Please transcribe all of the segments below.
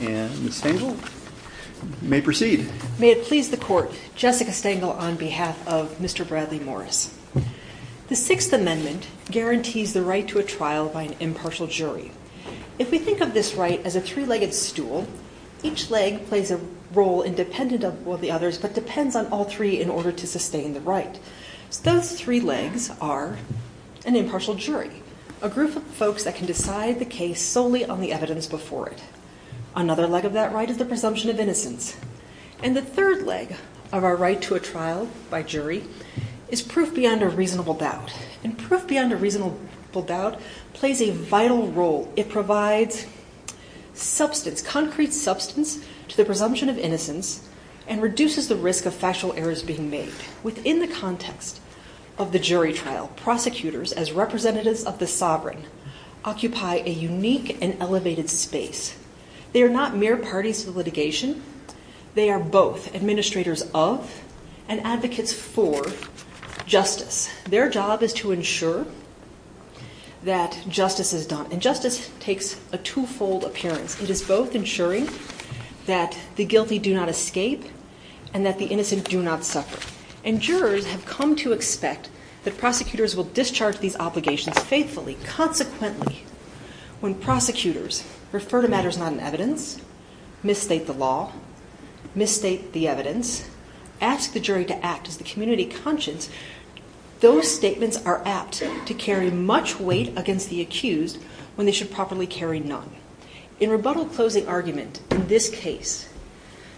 and Ms. Stengel. You may proceed. May it please the court, Jessica Stengel on behalf of Mr. Bradley Morris. The Sixth Amendment guarantees the right to a trial by an impartial jury. If we think of this right as a three-legged stool, each leg plays a role independent of all the others but depends on all three in order to sustain the right. Those three legs are an impartial jury, a group of folks that can decide the case solely on the evidence before it. Another leg of that right is the presumption of innocence. And the third leg of our right to a trial by jury is proof beyond a reasonable doubt. And proof beyond a reasonable doubt plays a vital role. It provides substance, concrete substance to the presumption of innocence and reduces the risk of factual errors being made. Within the context of the jury trial, prosecutors as representatives of the sovereign occupy a unique and elevated space. They are not mere parties to the litigation. They are both administrators of and advocates for justice. Their job is to ensure that justice is done. And justice takes a two-fold appearance. It is both ensuring that the guilty do not escape and that the innocent do not suffer. And jurors have come to expect that prosecutors will discharge these obligations faithfully, consequently. When prosecutors refer to matters not in evidence, misstate the law, misstate the evidence, ask the jury to act as the community conscience, those statements are apt to carry much weight against the accused when they should properly carry none. In rebuttal closing argument in this case,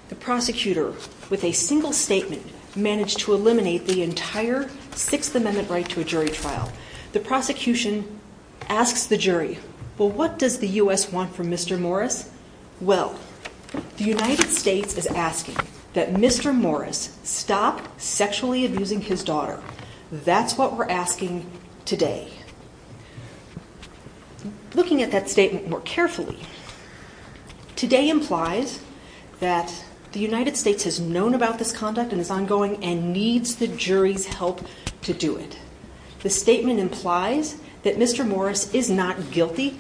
the prosecutor with a single statement managed to eliminate the entire Sixth Amendment right to a jury trial. The prosecution asks the jury, well, what does the U.S. want from Mr. Morris? Well, the United States is asking that Mr. Morris stop sexually abusing his daughter. That's what we're asking today. Looking at that statement more carefully, today implies that the United States has known about this conduct and is ongoing and needs the jury's help to do it. The statement implies that Mr. Morris is not guilty,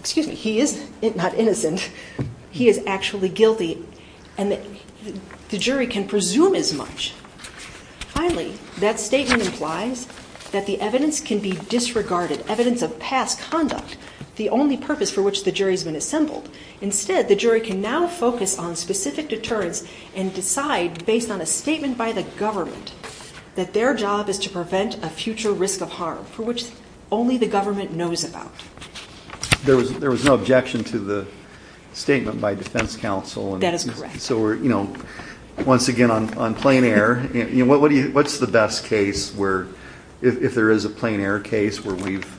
excuse me, he is not innocent, he is actually guilty and the jury can presume as much. Finally, that statement implies that the evidence can be disregarded, evidence of past conduct, the only purpose for which the jury has been assembled. Instead, the jury can now focus on specific deterrence and decide based on a statement by the government that their job is to prevent a future risk of harm for which only the government knows about. There was no objection to the statement by defense counsel. That is correct. So we're, you know, once again on plain air, you know, what's the best case where, if there is a plain air case where we've,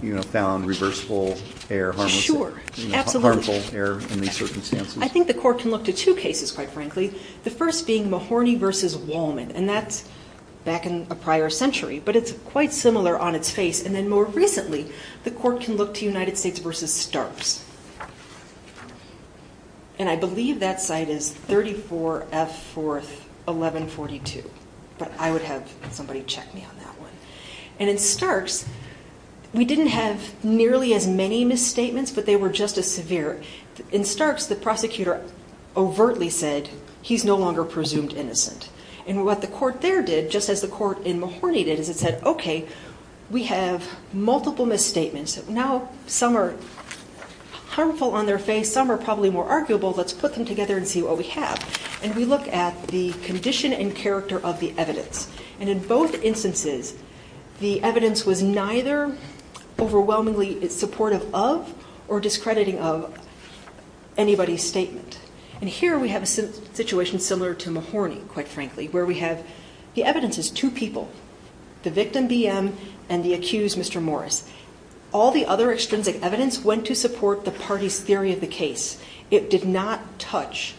you know, found reversible air, harmless air, harmful air in these circumstances? I think the court can look to two cases quite frankly, the first being Mahorny v. Wallman and that's back in a prior century but it's quite similar on its face and then more recently the court can look to United States v. Starks and I believe that site is 34F41142 but I would have somebody check me on that one. And in Starks, we didn't have nearly as many misstatements but they were just as severe. In Starks, the prosecutor overtly said he's no longer presumed innocent and what the court there did just as the court in Mahorny did is it said, okay, we have multiple misstatements, now some are harmful on their face, some are probably more arguable, let's put them together and see what we have. And we look at the condition and character of the evidence. And in both instances, the evidence was neither overwhelmingly supportive of or discrediting of anybody's statement. And here we have a situation similar to Mahorny, quite frankly, where we have the evidence is two people, the victim, BM, and the accused, Mr. Morris. All the other extrinsic evidence went to support the party's theory of the case. It did not touch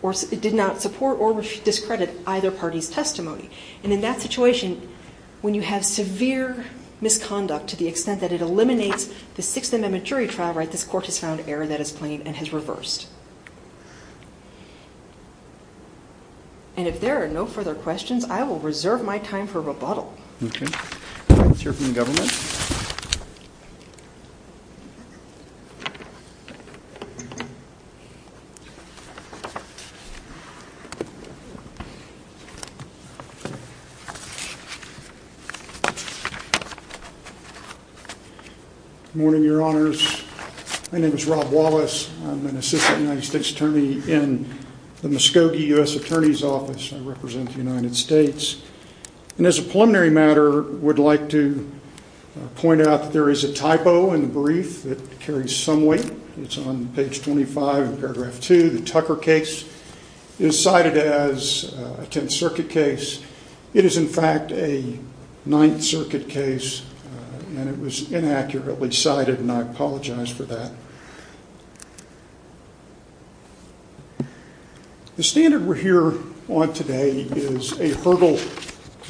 or it did not support or discredit either party's testimony. And in that situation, when you have severe misconduct to the extent that it eliminates the Sixth Amendment jury trial, right, this court has found error that is and has reversed. And if there are no further questions, I will reserve my time for rebuttal. Okay. Let's hear from the government. Good morning, Your Honors. My name is Rob Wallace. I'm an assistant United States Attorney in the Muskogee U.S. Attorney's Office. I represent the United States. And as a preliminary matter, I would like to point out that there is a typo in the brief that carries some weight. It's on page 25 in paragraph 2. The Tucker case is cited as a Tenth Circuit case. It is, in fact, a Ninth Circuit case, and it was inaccurately cited, and I apologize for that. The standard we're here on today is a hurdle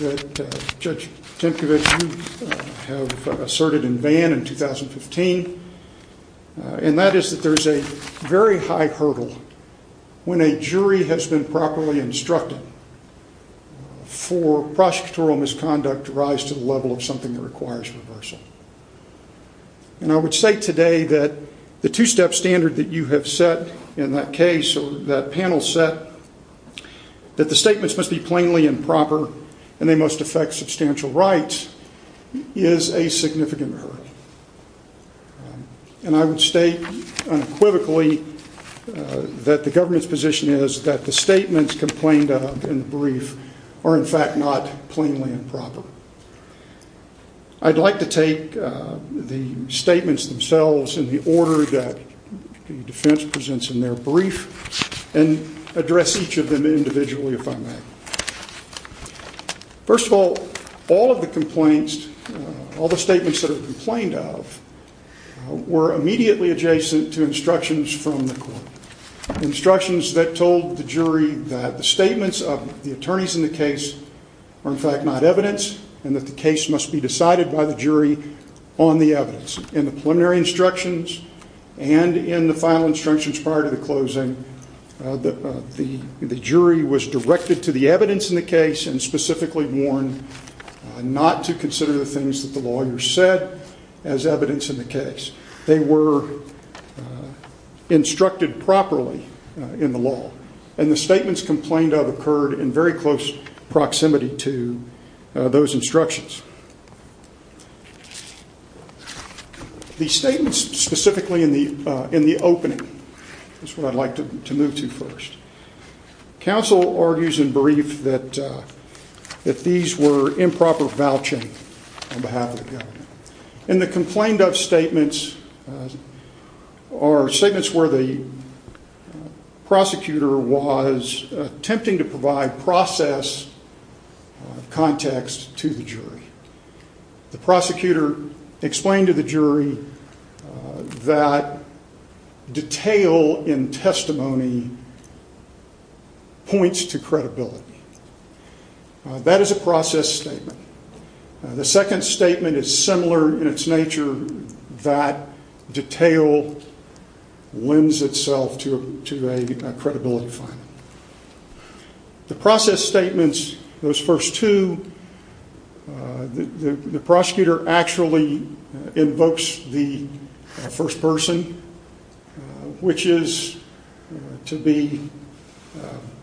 that Judge Temkevich, you have asserted in Vann in 2015, and that is that there is a very high hurdle when a jury has been properly instructed for prosecutorial misconduct to rise to the level of something that requires reversal. And I would say today that the two-step standard that you have set in that case or that panel set, that the statements must be plainly and proper and they must affect substantial rights, is a significant hurdle. And I would state unequivocally that the government's position is that the statements complained of in the brief are, in fact, not plainly and properly. I'd like to take the statements themselves in the order that the defense presents in their brief and address each of them individually, if I may. First of all, all of the complaints, all the statements that are complained of, were immediately adjacent to instructions from the court, instructions that told the jury that the statements of the attorneys in the case are, in fact, not evidence and that the case must be decided by the jury on the evidence. In the preliminary instructions and in the final instructions prior to the closing, the jury was directed to the evidence in the case and specifically warned not to consider the things that the lawyers said as evidence in the case. They were instructed properly in the law. And the statements complained of occurred in very close proximity to those instructions. The statements specifically in the opening, that's what I'd like to move to first. Council argues in brief that these were improper vouching on behalf of the government. And the complained of statements are statements where the prosecutor was attempting to provide proper evidence in a process of context to the jury. The prosecutor explained to the jury that detail in testimony points to credibility. That is a process statement. The second statement is similar in its nature, that detail lends itself to a credibility finding. The process statements, those first two, the prosecutor actually invokes the first person, which is to be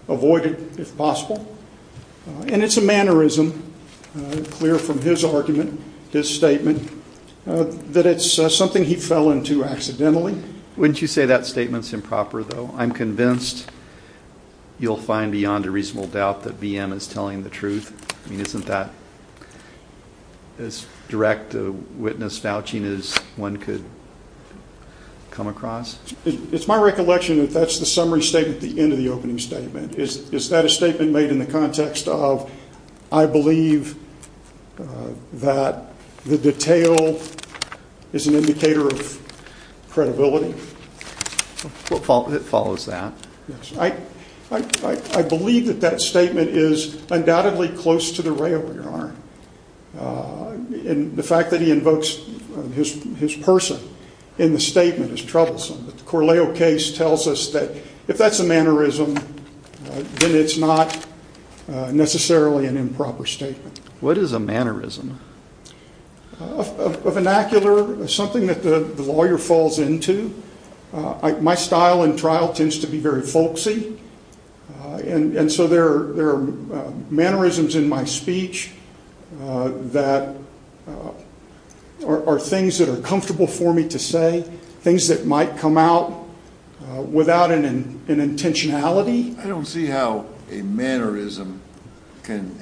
avoided if possible. And it's a mannerism, clear from his argument, his statement, that it's something he fell into accidentally. Wouldn't you say that statement's improper, though? I'm convinced you'll find beyond a reasonable doubt that BM is telling the truth. I mean, isn't that as direct a witness vouching as one could come across? It's my recollection that that's the summary statement at the end of the opening statement. Is that a statement made in the context of, I believe that the detail is an indicator of credibility? It follows that. I believe that that statement is undoubtedly close to the rail, Your Honor. And the fact that he invokes his person in the statement is troublesome. The Corleo case tells us that if that's a mannerism, then it's not necessarily an improper statement. What is a mannerism? A vernacular, something that the lawyer falls into. My style in trial tends to be very folksy, and so there are mannerisms in my speech that are things that are comfortable for me to say, things that might come out without an intentionality. I don't see how a mannerism can...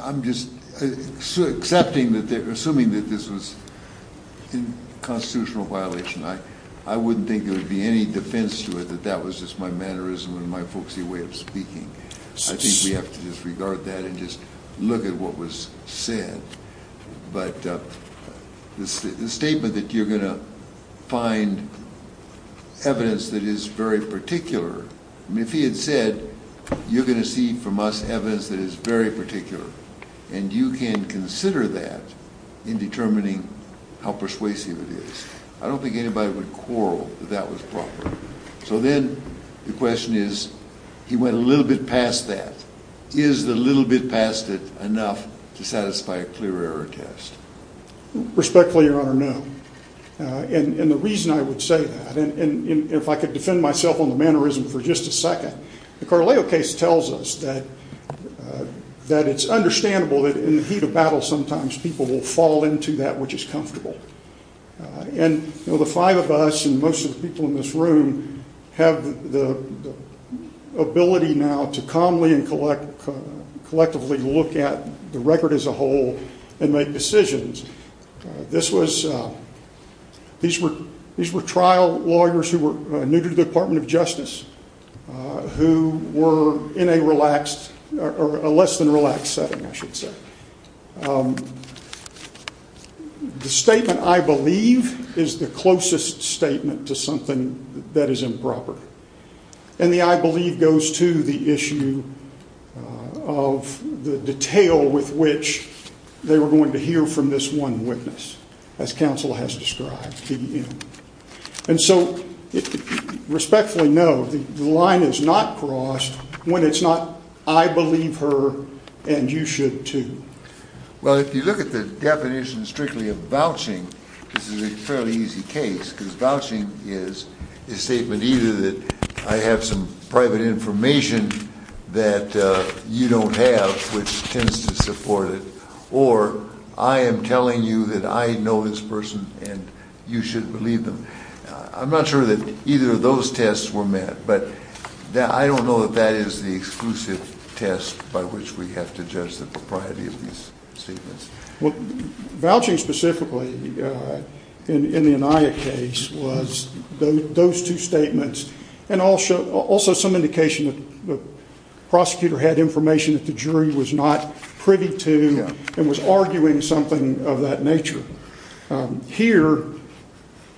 I'm just assuming that this was a constitutional violation. I wouldn't think there would be any defense to it that that was just my mannerism and my folksy way of speaking. I think we have to disregard that and just look at what was said. But the statement that you're going to find evidence that is very particular, I mean, if he had said, you're going to see from us evidence that is very particular, and you can consider that in determining how persuasive it is, I don't think anybody would quarrel that that was proper. So then the question is, he went a little bit past that. Is the little bit past it enough to satisfy a clear error test? Respectfully, Your Honor, no. And the reason I would say that, and if I could defend myself on the mannerism for just a second, the Carleo case tells us that it's understandable that in the heat of battle sometimes people will fall into that which is comfortable. And the five of us and most of the people in this room have the ability now to calmly and collectively look at the record as a whole and make decisions. This was... these were trial lawyers who were new to the Department of Justice who were in a relaxed, or a less than relaxed setting, I should say. The statement, I believe, is the closest statement to something that is improper. And the I believe goes to the issue of the detail with which they were going to hear from this one witness, as counsel has described. And so, respectfully, no, the line is not crossed when it's not I believe her and you should too. Well, if you look at the definition strictly of vouching, this is a fairly easy case because vouching is a statement either that I have some private information that you don't have which tends to support it, or I am telling you that I know this person and you should believe them. I'm not sure that either of those tests were met, but I don't know that that is the exclusive test by which we have to judge the propriety of these statements. Vouching specifically in the Anaya case was those two statements and also some indication that the prosecutor had information that the jury was not privy to and was arguing something of that nature. Here,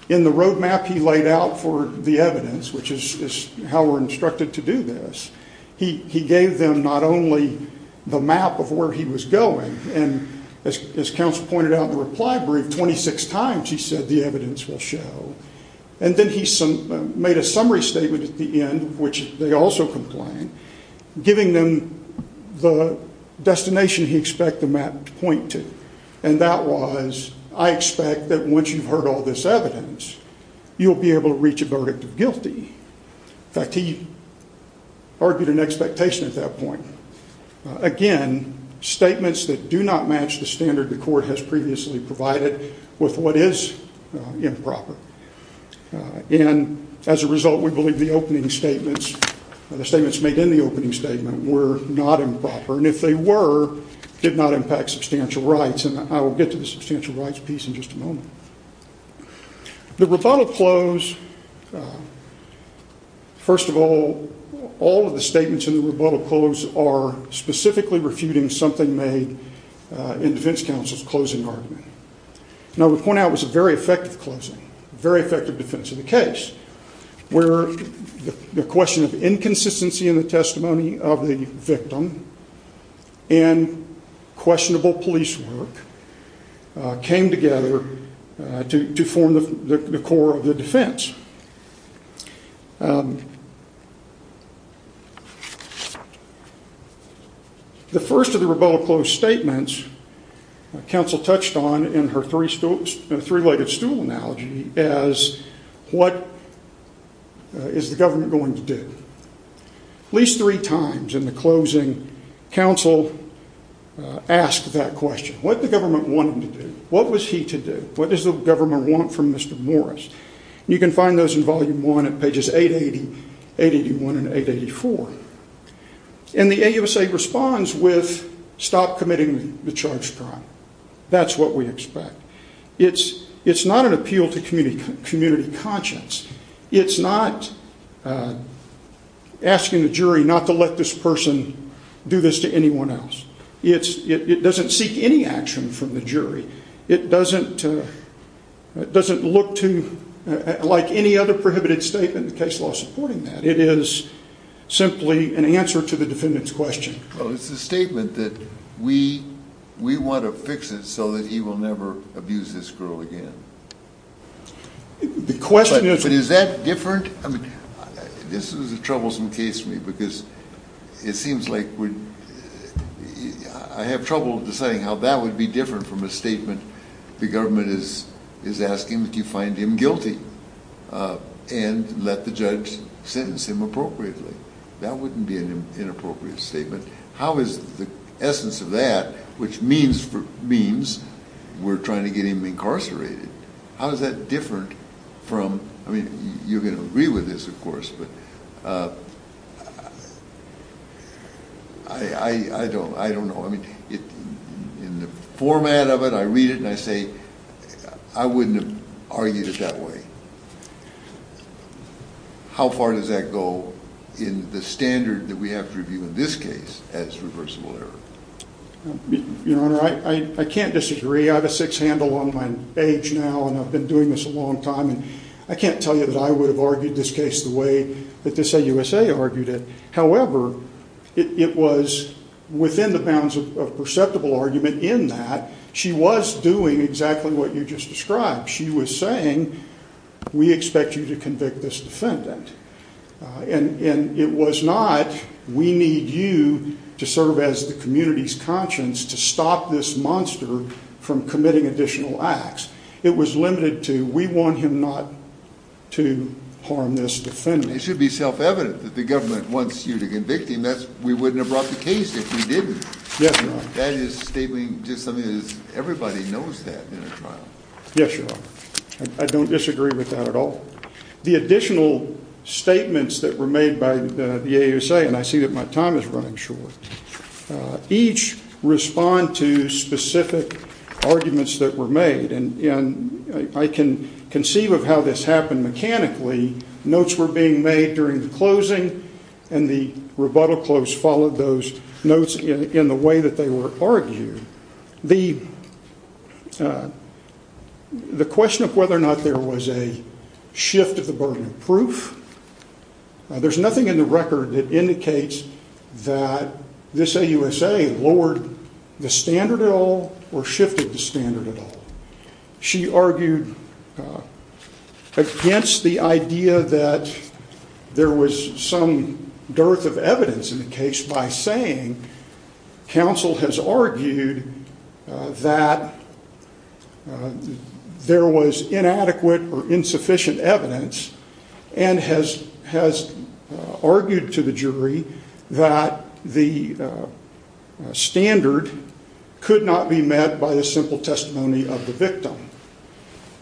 in the roadmap he laid out for the evidence, which is how we're instructed to do this, he gave them not only the map of where he was going, and as counsel pointed out in the reply brief, 26 times he said the evidence will show. And then he made a summary statement at the end, which they also complained, giving them the destination he expected the map to point to. And that was, I expect that once you've heard all this evidence, you'll be able to reach a verdict of guilty. In fact, he argued an expectation at that point. Again, statements that do not match the standard the court has previously provided with what is improper. And as a result, we believe the opening statements, the statements made in the opening statement, were not improper. And if they were, did not impact substantial rights. And I will get to the substantial rights piece in just a moment. The rebuttal close, first of all, all of the statements in the rebuttal close are specifically refuting something made in defense counsel's closing argument. Now, we point out it was a very effective closing, very effective defense of the case, where the question of inconsistency in the testimony of the victim and questionable police work came together to form the core of the defense. The first of the closing arguments, the first of the closing arguments, was that the rebuttal close statements, counsel touched on in her three-legged stool analogy, as what is the government going to do? At least three times in the closing, counsel asked that question. What did the government want him to do? What was he to do? What does the government want from Mr. Morris? You can find those in volume one at pages 881 and 884. And the AUSA responds with, stop committing the charge of crime. That's what we expect. It's not an appeal to community conscience. It's not asking the jury not to let this person do this to anyone else. It doesn't seek any action from the jury. It doesn't look to, like any other prohibited statement in the case law supporting that. It is simply an answer to the defendant's question. Well, it's a statement that we want to fix it so that he will never abuse this girl again. The question is... But is that different? I mean, this is a troublesome case to me because it seems like we... I have trouble deciding how that would be different from a statement the government is asking that you find him guilty and let the judge sentence him appropriately. That wouldn't be an inappropriate statement. How is the essence of that, which means we're trying to get him incarcerated, how is that different from... I mean, you're going to agree with this, of course, but I don't know. I mean, in the format of it, I read it and I say I wouldn't have argued it that way. How far does that go in the standard that we have to review in this case as reversible error? Your Honor, I can't disagree. I have a sixth hand along my age now and I've been doing this a long time and I can't tell you that I would have argued this case the way that this AUSA argued it. However, it was within the bounds of perceptible argument in that she was doing exactly what you just described. She was saying, we expect you to convict this defendant. And it was not, we need you to serve as the community's conscience to stop this monster from committing additional acts. It was limited to, we want him not to harm this defendant. It should be self-evident that the government wants you to convict him. We wouldn't have brought the case if we didn't. That is stating just something that everybody knows that in a trial. Yes, Your Honor. I don't disagree with that at all. The additional statements that were made by the AUSA, and I see that my time is running short, each respond to specific arguments that were made. And I can conceive of how this happened mechanically. Notes were being made during the closing and the rebuttal close followed those notes in the way that they were argued. The question of whether or not there was a shift of the burden of proof, there's nothing in the record that indicates that this AUSA lowered the standard at all or shifted the standard at all. She argued against the idea that there was some dearth of evidence in the case by saying counsel has argued that there was inadequate or insufficient evidence and has argued to the jury that the standard could not be met by the simple testimony of the victim.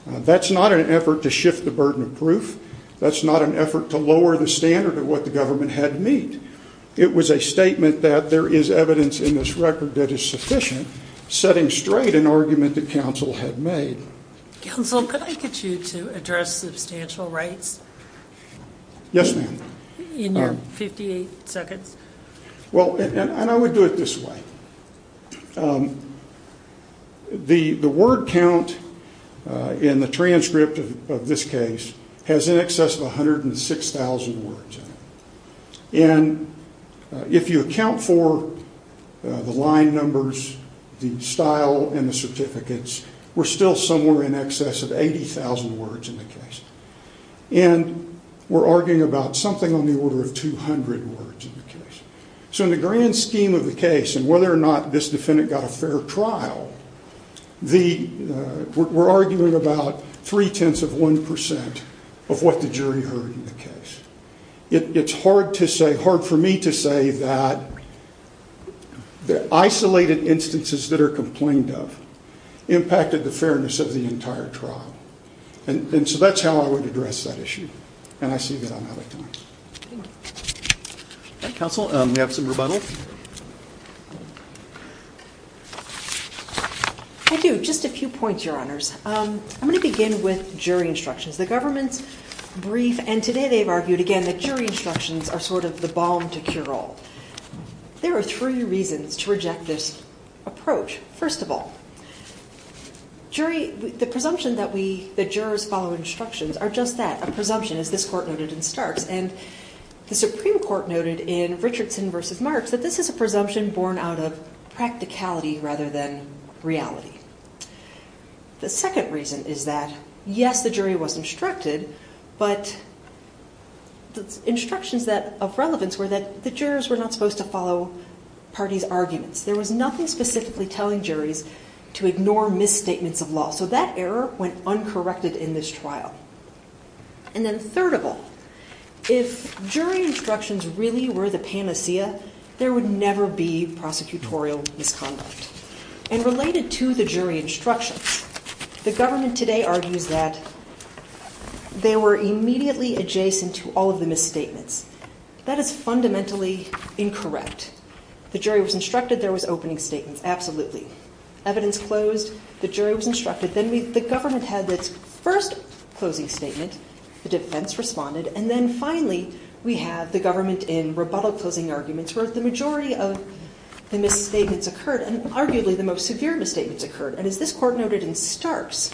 That's not an effort to shift the burden of proof. That's not an effort to lower the standard of what the government had to meet. It was a statement that there is evidence in this record that is sufficient, setting straight an argument that counsel had made. Counsel, could I get you to address substantial rights? Yes, ma'am. In your 58 seconds. Well, and I would do it this way. The word count in the transcript of this case has in it 6,000 words in it. And if you account for the line numbers, the style, and the certificates, we're still somewhere in excess of 80,000 words in the case. And we're arguing about something on the order of 200 words in the case. So in the grand scheme of the case and whether or not this defendant got a fair trial, we're arguing about three-tenths of one percent of what the jury heard in the case. It's hard to say, hard for me to say that the isolated instances that are complained of impacted the fairness of the entire trial. And so that's how I would address that issue. And I see that I'm out of time. Counsel, we have some rebuttals. I do. Just a few points, Your Honors. I'm going to begin with jury instructions. The government's brief, and today they've argued again that jury instructions are sort of the balm to cure all. There are three reasons to reject this approach. First of all, jury, the presumption that we, the jurors follow instructions are just that, a presumption as this court noted in Starks. And the Supreme Court noted in Richardson v. Marks that this is a presumption born out of practicality rather than reality. The second reason is that, yes, the jury was instructed, but the instructions of relevance were that the jurors were not supposed to follow parties' arguments. There was nothing specifically telling juries to ignore misstatements of law. So that error went uncorrected in this trial. And then third of all, if jury instructions really were the panacea, there would never be prosecutorial misconduct. And related to the jury instructions, the government today argues that they were immediately adjacent to all of the misstatements. That is fundamentally incorrect. The jury was instructed there was opening statements. Absolutely. Evidence closed. The jury was instructed. Then the government had its first closing statement. The defense responded. And then finally, we have the government in rebuttal closing arguments where the majority of the misstatements occurred, and arguably the most severe misstatements occurred. And as this court noted in Starks,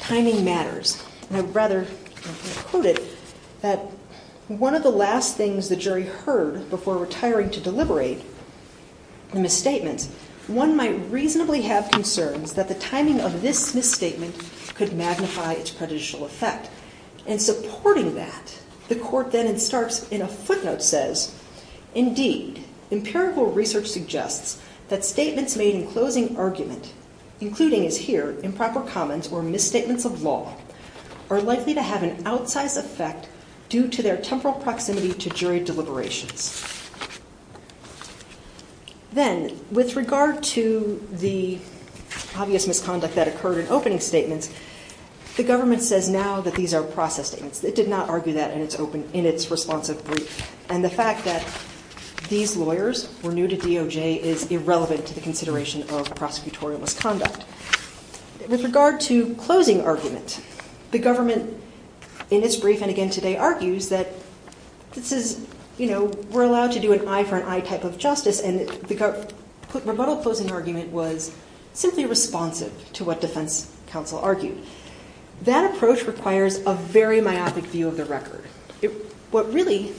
timing matters. And I would rather quote it, that one of the last things the jury heard before retiring to deliberate the misstatements, one might reasonably have concerns that the timing of this misstatement could magnify its prejudicial effect. And supporting that, the court then in Starks in a footnote says, indeed, empirical research suggests that statements made in closing argument, including as here improper comments or misstatements of law, are likely to have an outsized effect due to their temporal proximity to jury deliberations. Then with regard to the obvious misconduct that occurred in opening statements, the government says now that these are process statements. It did not argue that in its responsive brief. And the fact that these lawyers were new to DOJ is irrelevant to the consideration of prosecutorial misconduct. With regard to closing argument, the government in its brief, and again today, argues that this is, you know, we're allowed to do an eye for an eye type of justice. And the rebuttal closing argument was simply responsive to what defense counsel argued. That approach requires a very myopic view of the record. What really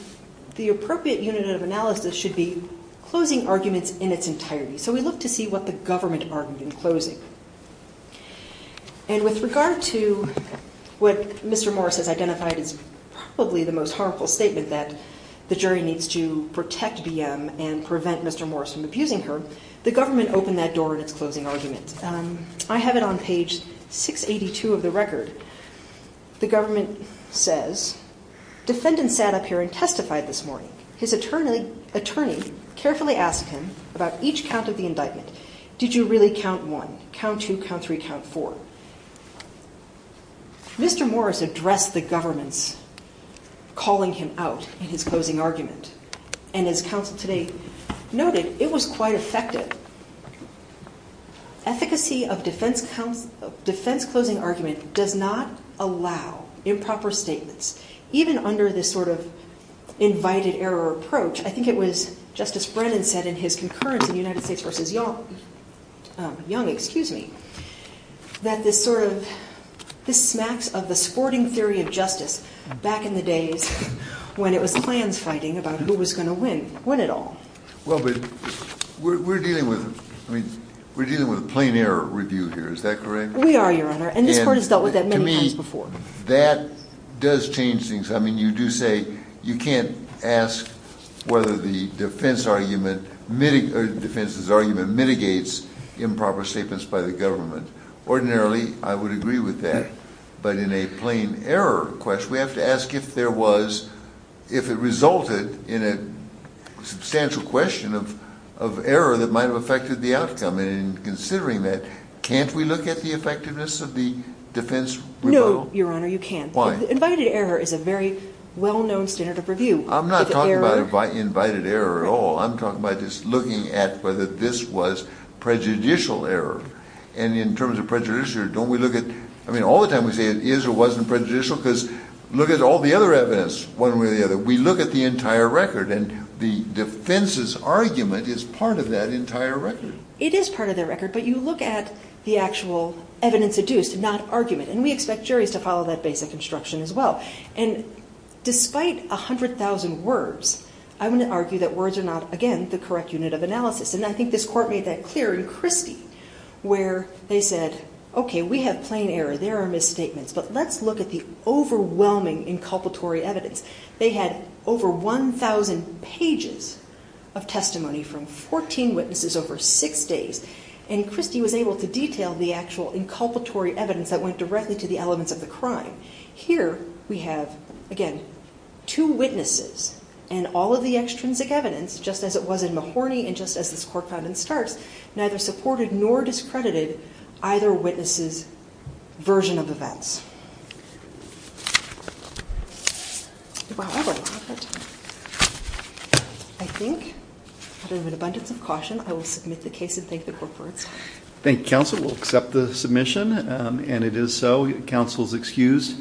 the appropriate unit of analysis should be closing arguments in its entirety. So we look to see what the government argued in closing. And with regard to what Mr. Morris has identified as probably the most harmful statement that the jury needs to protect BM and prevent Mr. Morris from abusing her, the government opened that door in its closing argument. I have it on page 682 of the record. The government says, defendant sat up here and testified this morning. His attorney carefully asked him about each count of the indictment. Did you really count one, count two, count three, count four? Mr. Morris addressed the government's calling him out in his closing argument. And as counsel today noted, it was quite effective. Efficacy of defense closing argument does not allow improper statements, even under this sort of invited error approach. I think it was Justice Brennan said in his concurrence in the United States v. Young, excuse me, that this sort of, this smacks of the sporting theory of justice back in the days when it was plans fighting about who was going to win, win it all. Well, but we're dealing with, I mean, we're dealing with a plain error review here. Is that correct? We are, your honor. And this court has dealt with that many times before. That does change things. I mean, you do say you can't ask whether the defense argument or defense's argument mitigates improper statements by the government. Ordinarily, I would agree with that. But in a plain error question, we have to ask if there was, if it resulted in a substantial question of error that might've affected the outcome. And in considering that, can't we look at the effectiveness of the defense? No, your honor, you can't. Why? Invited error is a very well-known standard of review. I'm not talking about invited error at all. I'm talking about just looking at whether this was prejudicial error. And in terms of prejudicial error, don't we look at, I mean, all the time we say it is or wasn't prejudicial because look at all the other evidence one way or the other. We look at the entire record and the defense's argument is part of that entire record. It is part of the record, but you look at the actual evidence adduced, not argument. And we expect juries to follow that basic instruction as well. And despite 100,000 words, I wouldn't argue that words are not, again, the correct unit of analysis. And I think this court made that clear in Christie where they said, okay, we have plain error. There are misstatements. But let's look at the overwhelming inculpatory evidence. They had over 1,000 pages of testimony from 14 witnesses over six days. And Christie was able to detail the actual inculpatory evidence that went directly to the elements of the crime. Here we have, again, two witnesses and all of the extrinsic evidence, just as it was in Mahorny and just as this court found in Starks, neither supported nor discredited either witness's version of events. However, I think out of an abundance of caution, I think counsel will accept the submission. And it is so. Counsel is excused.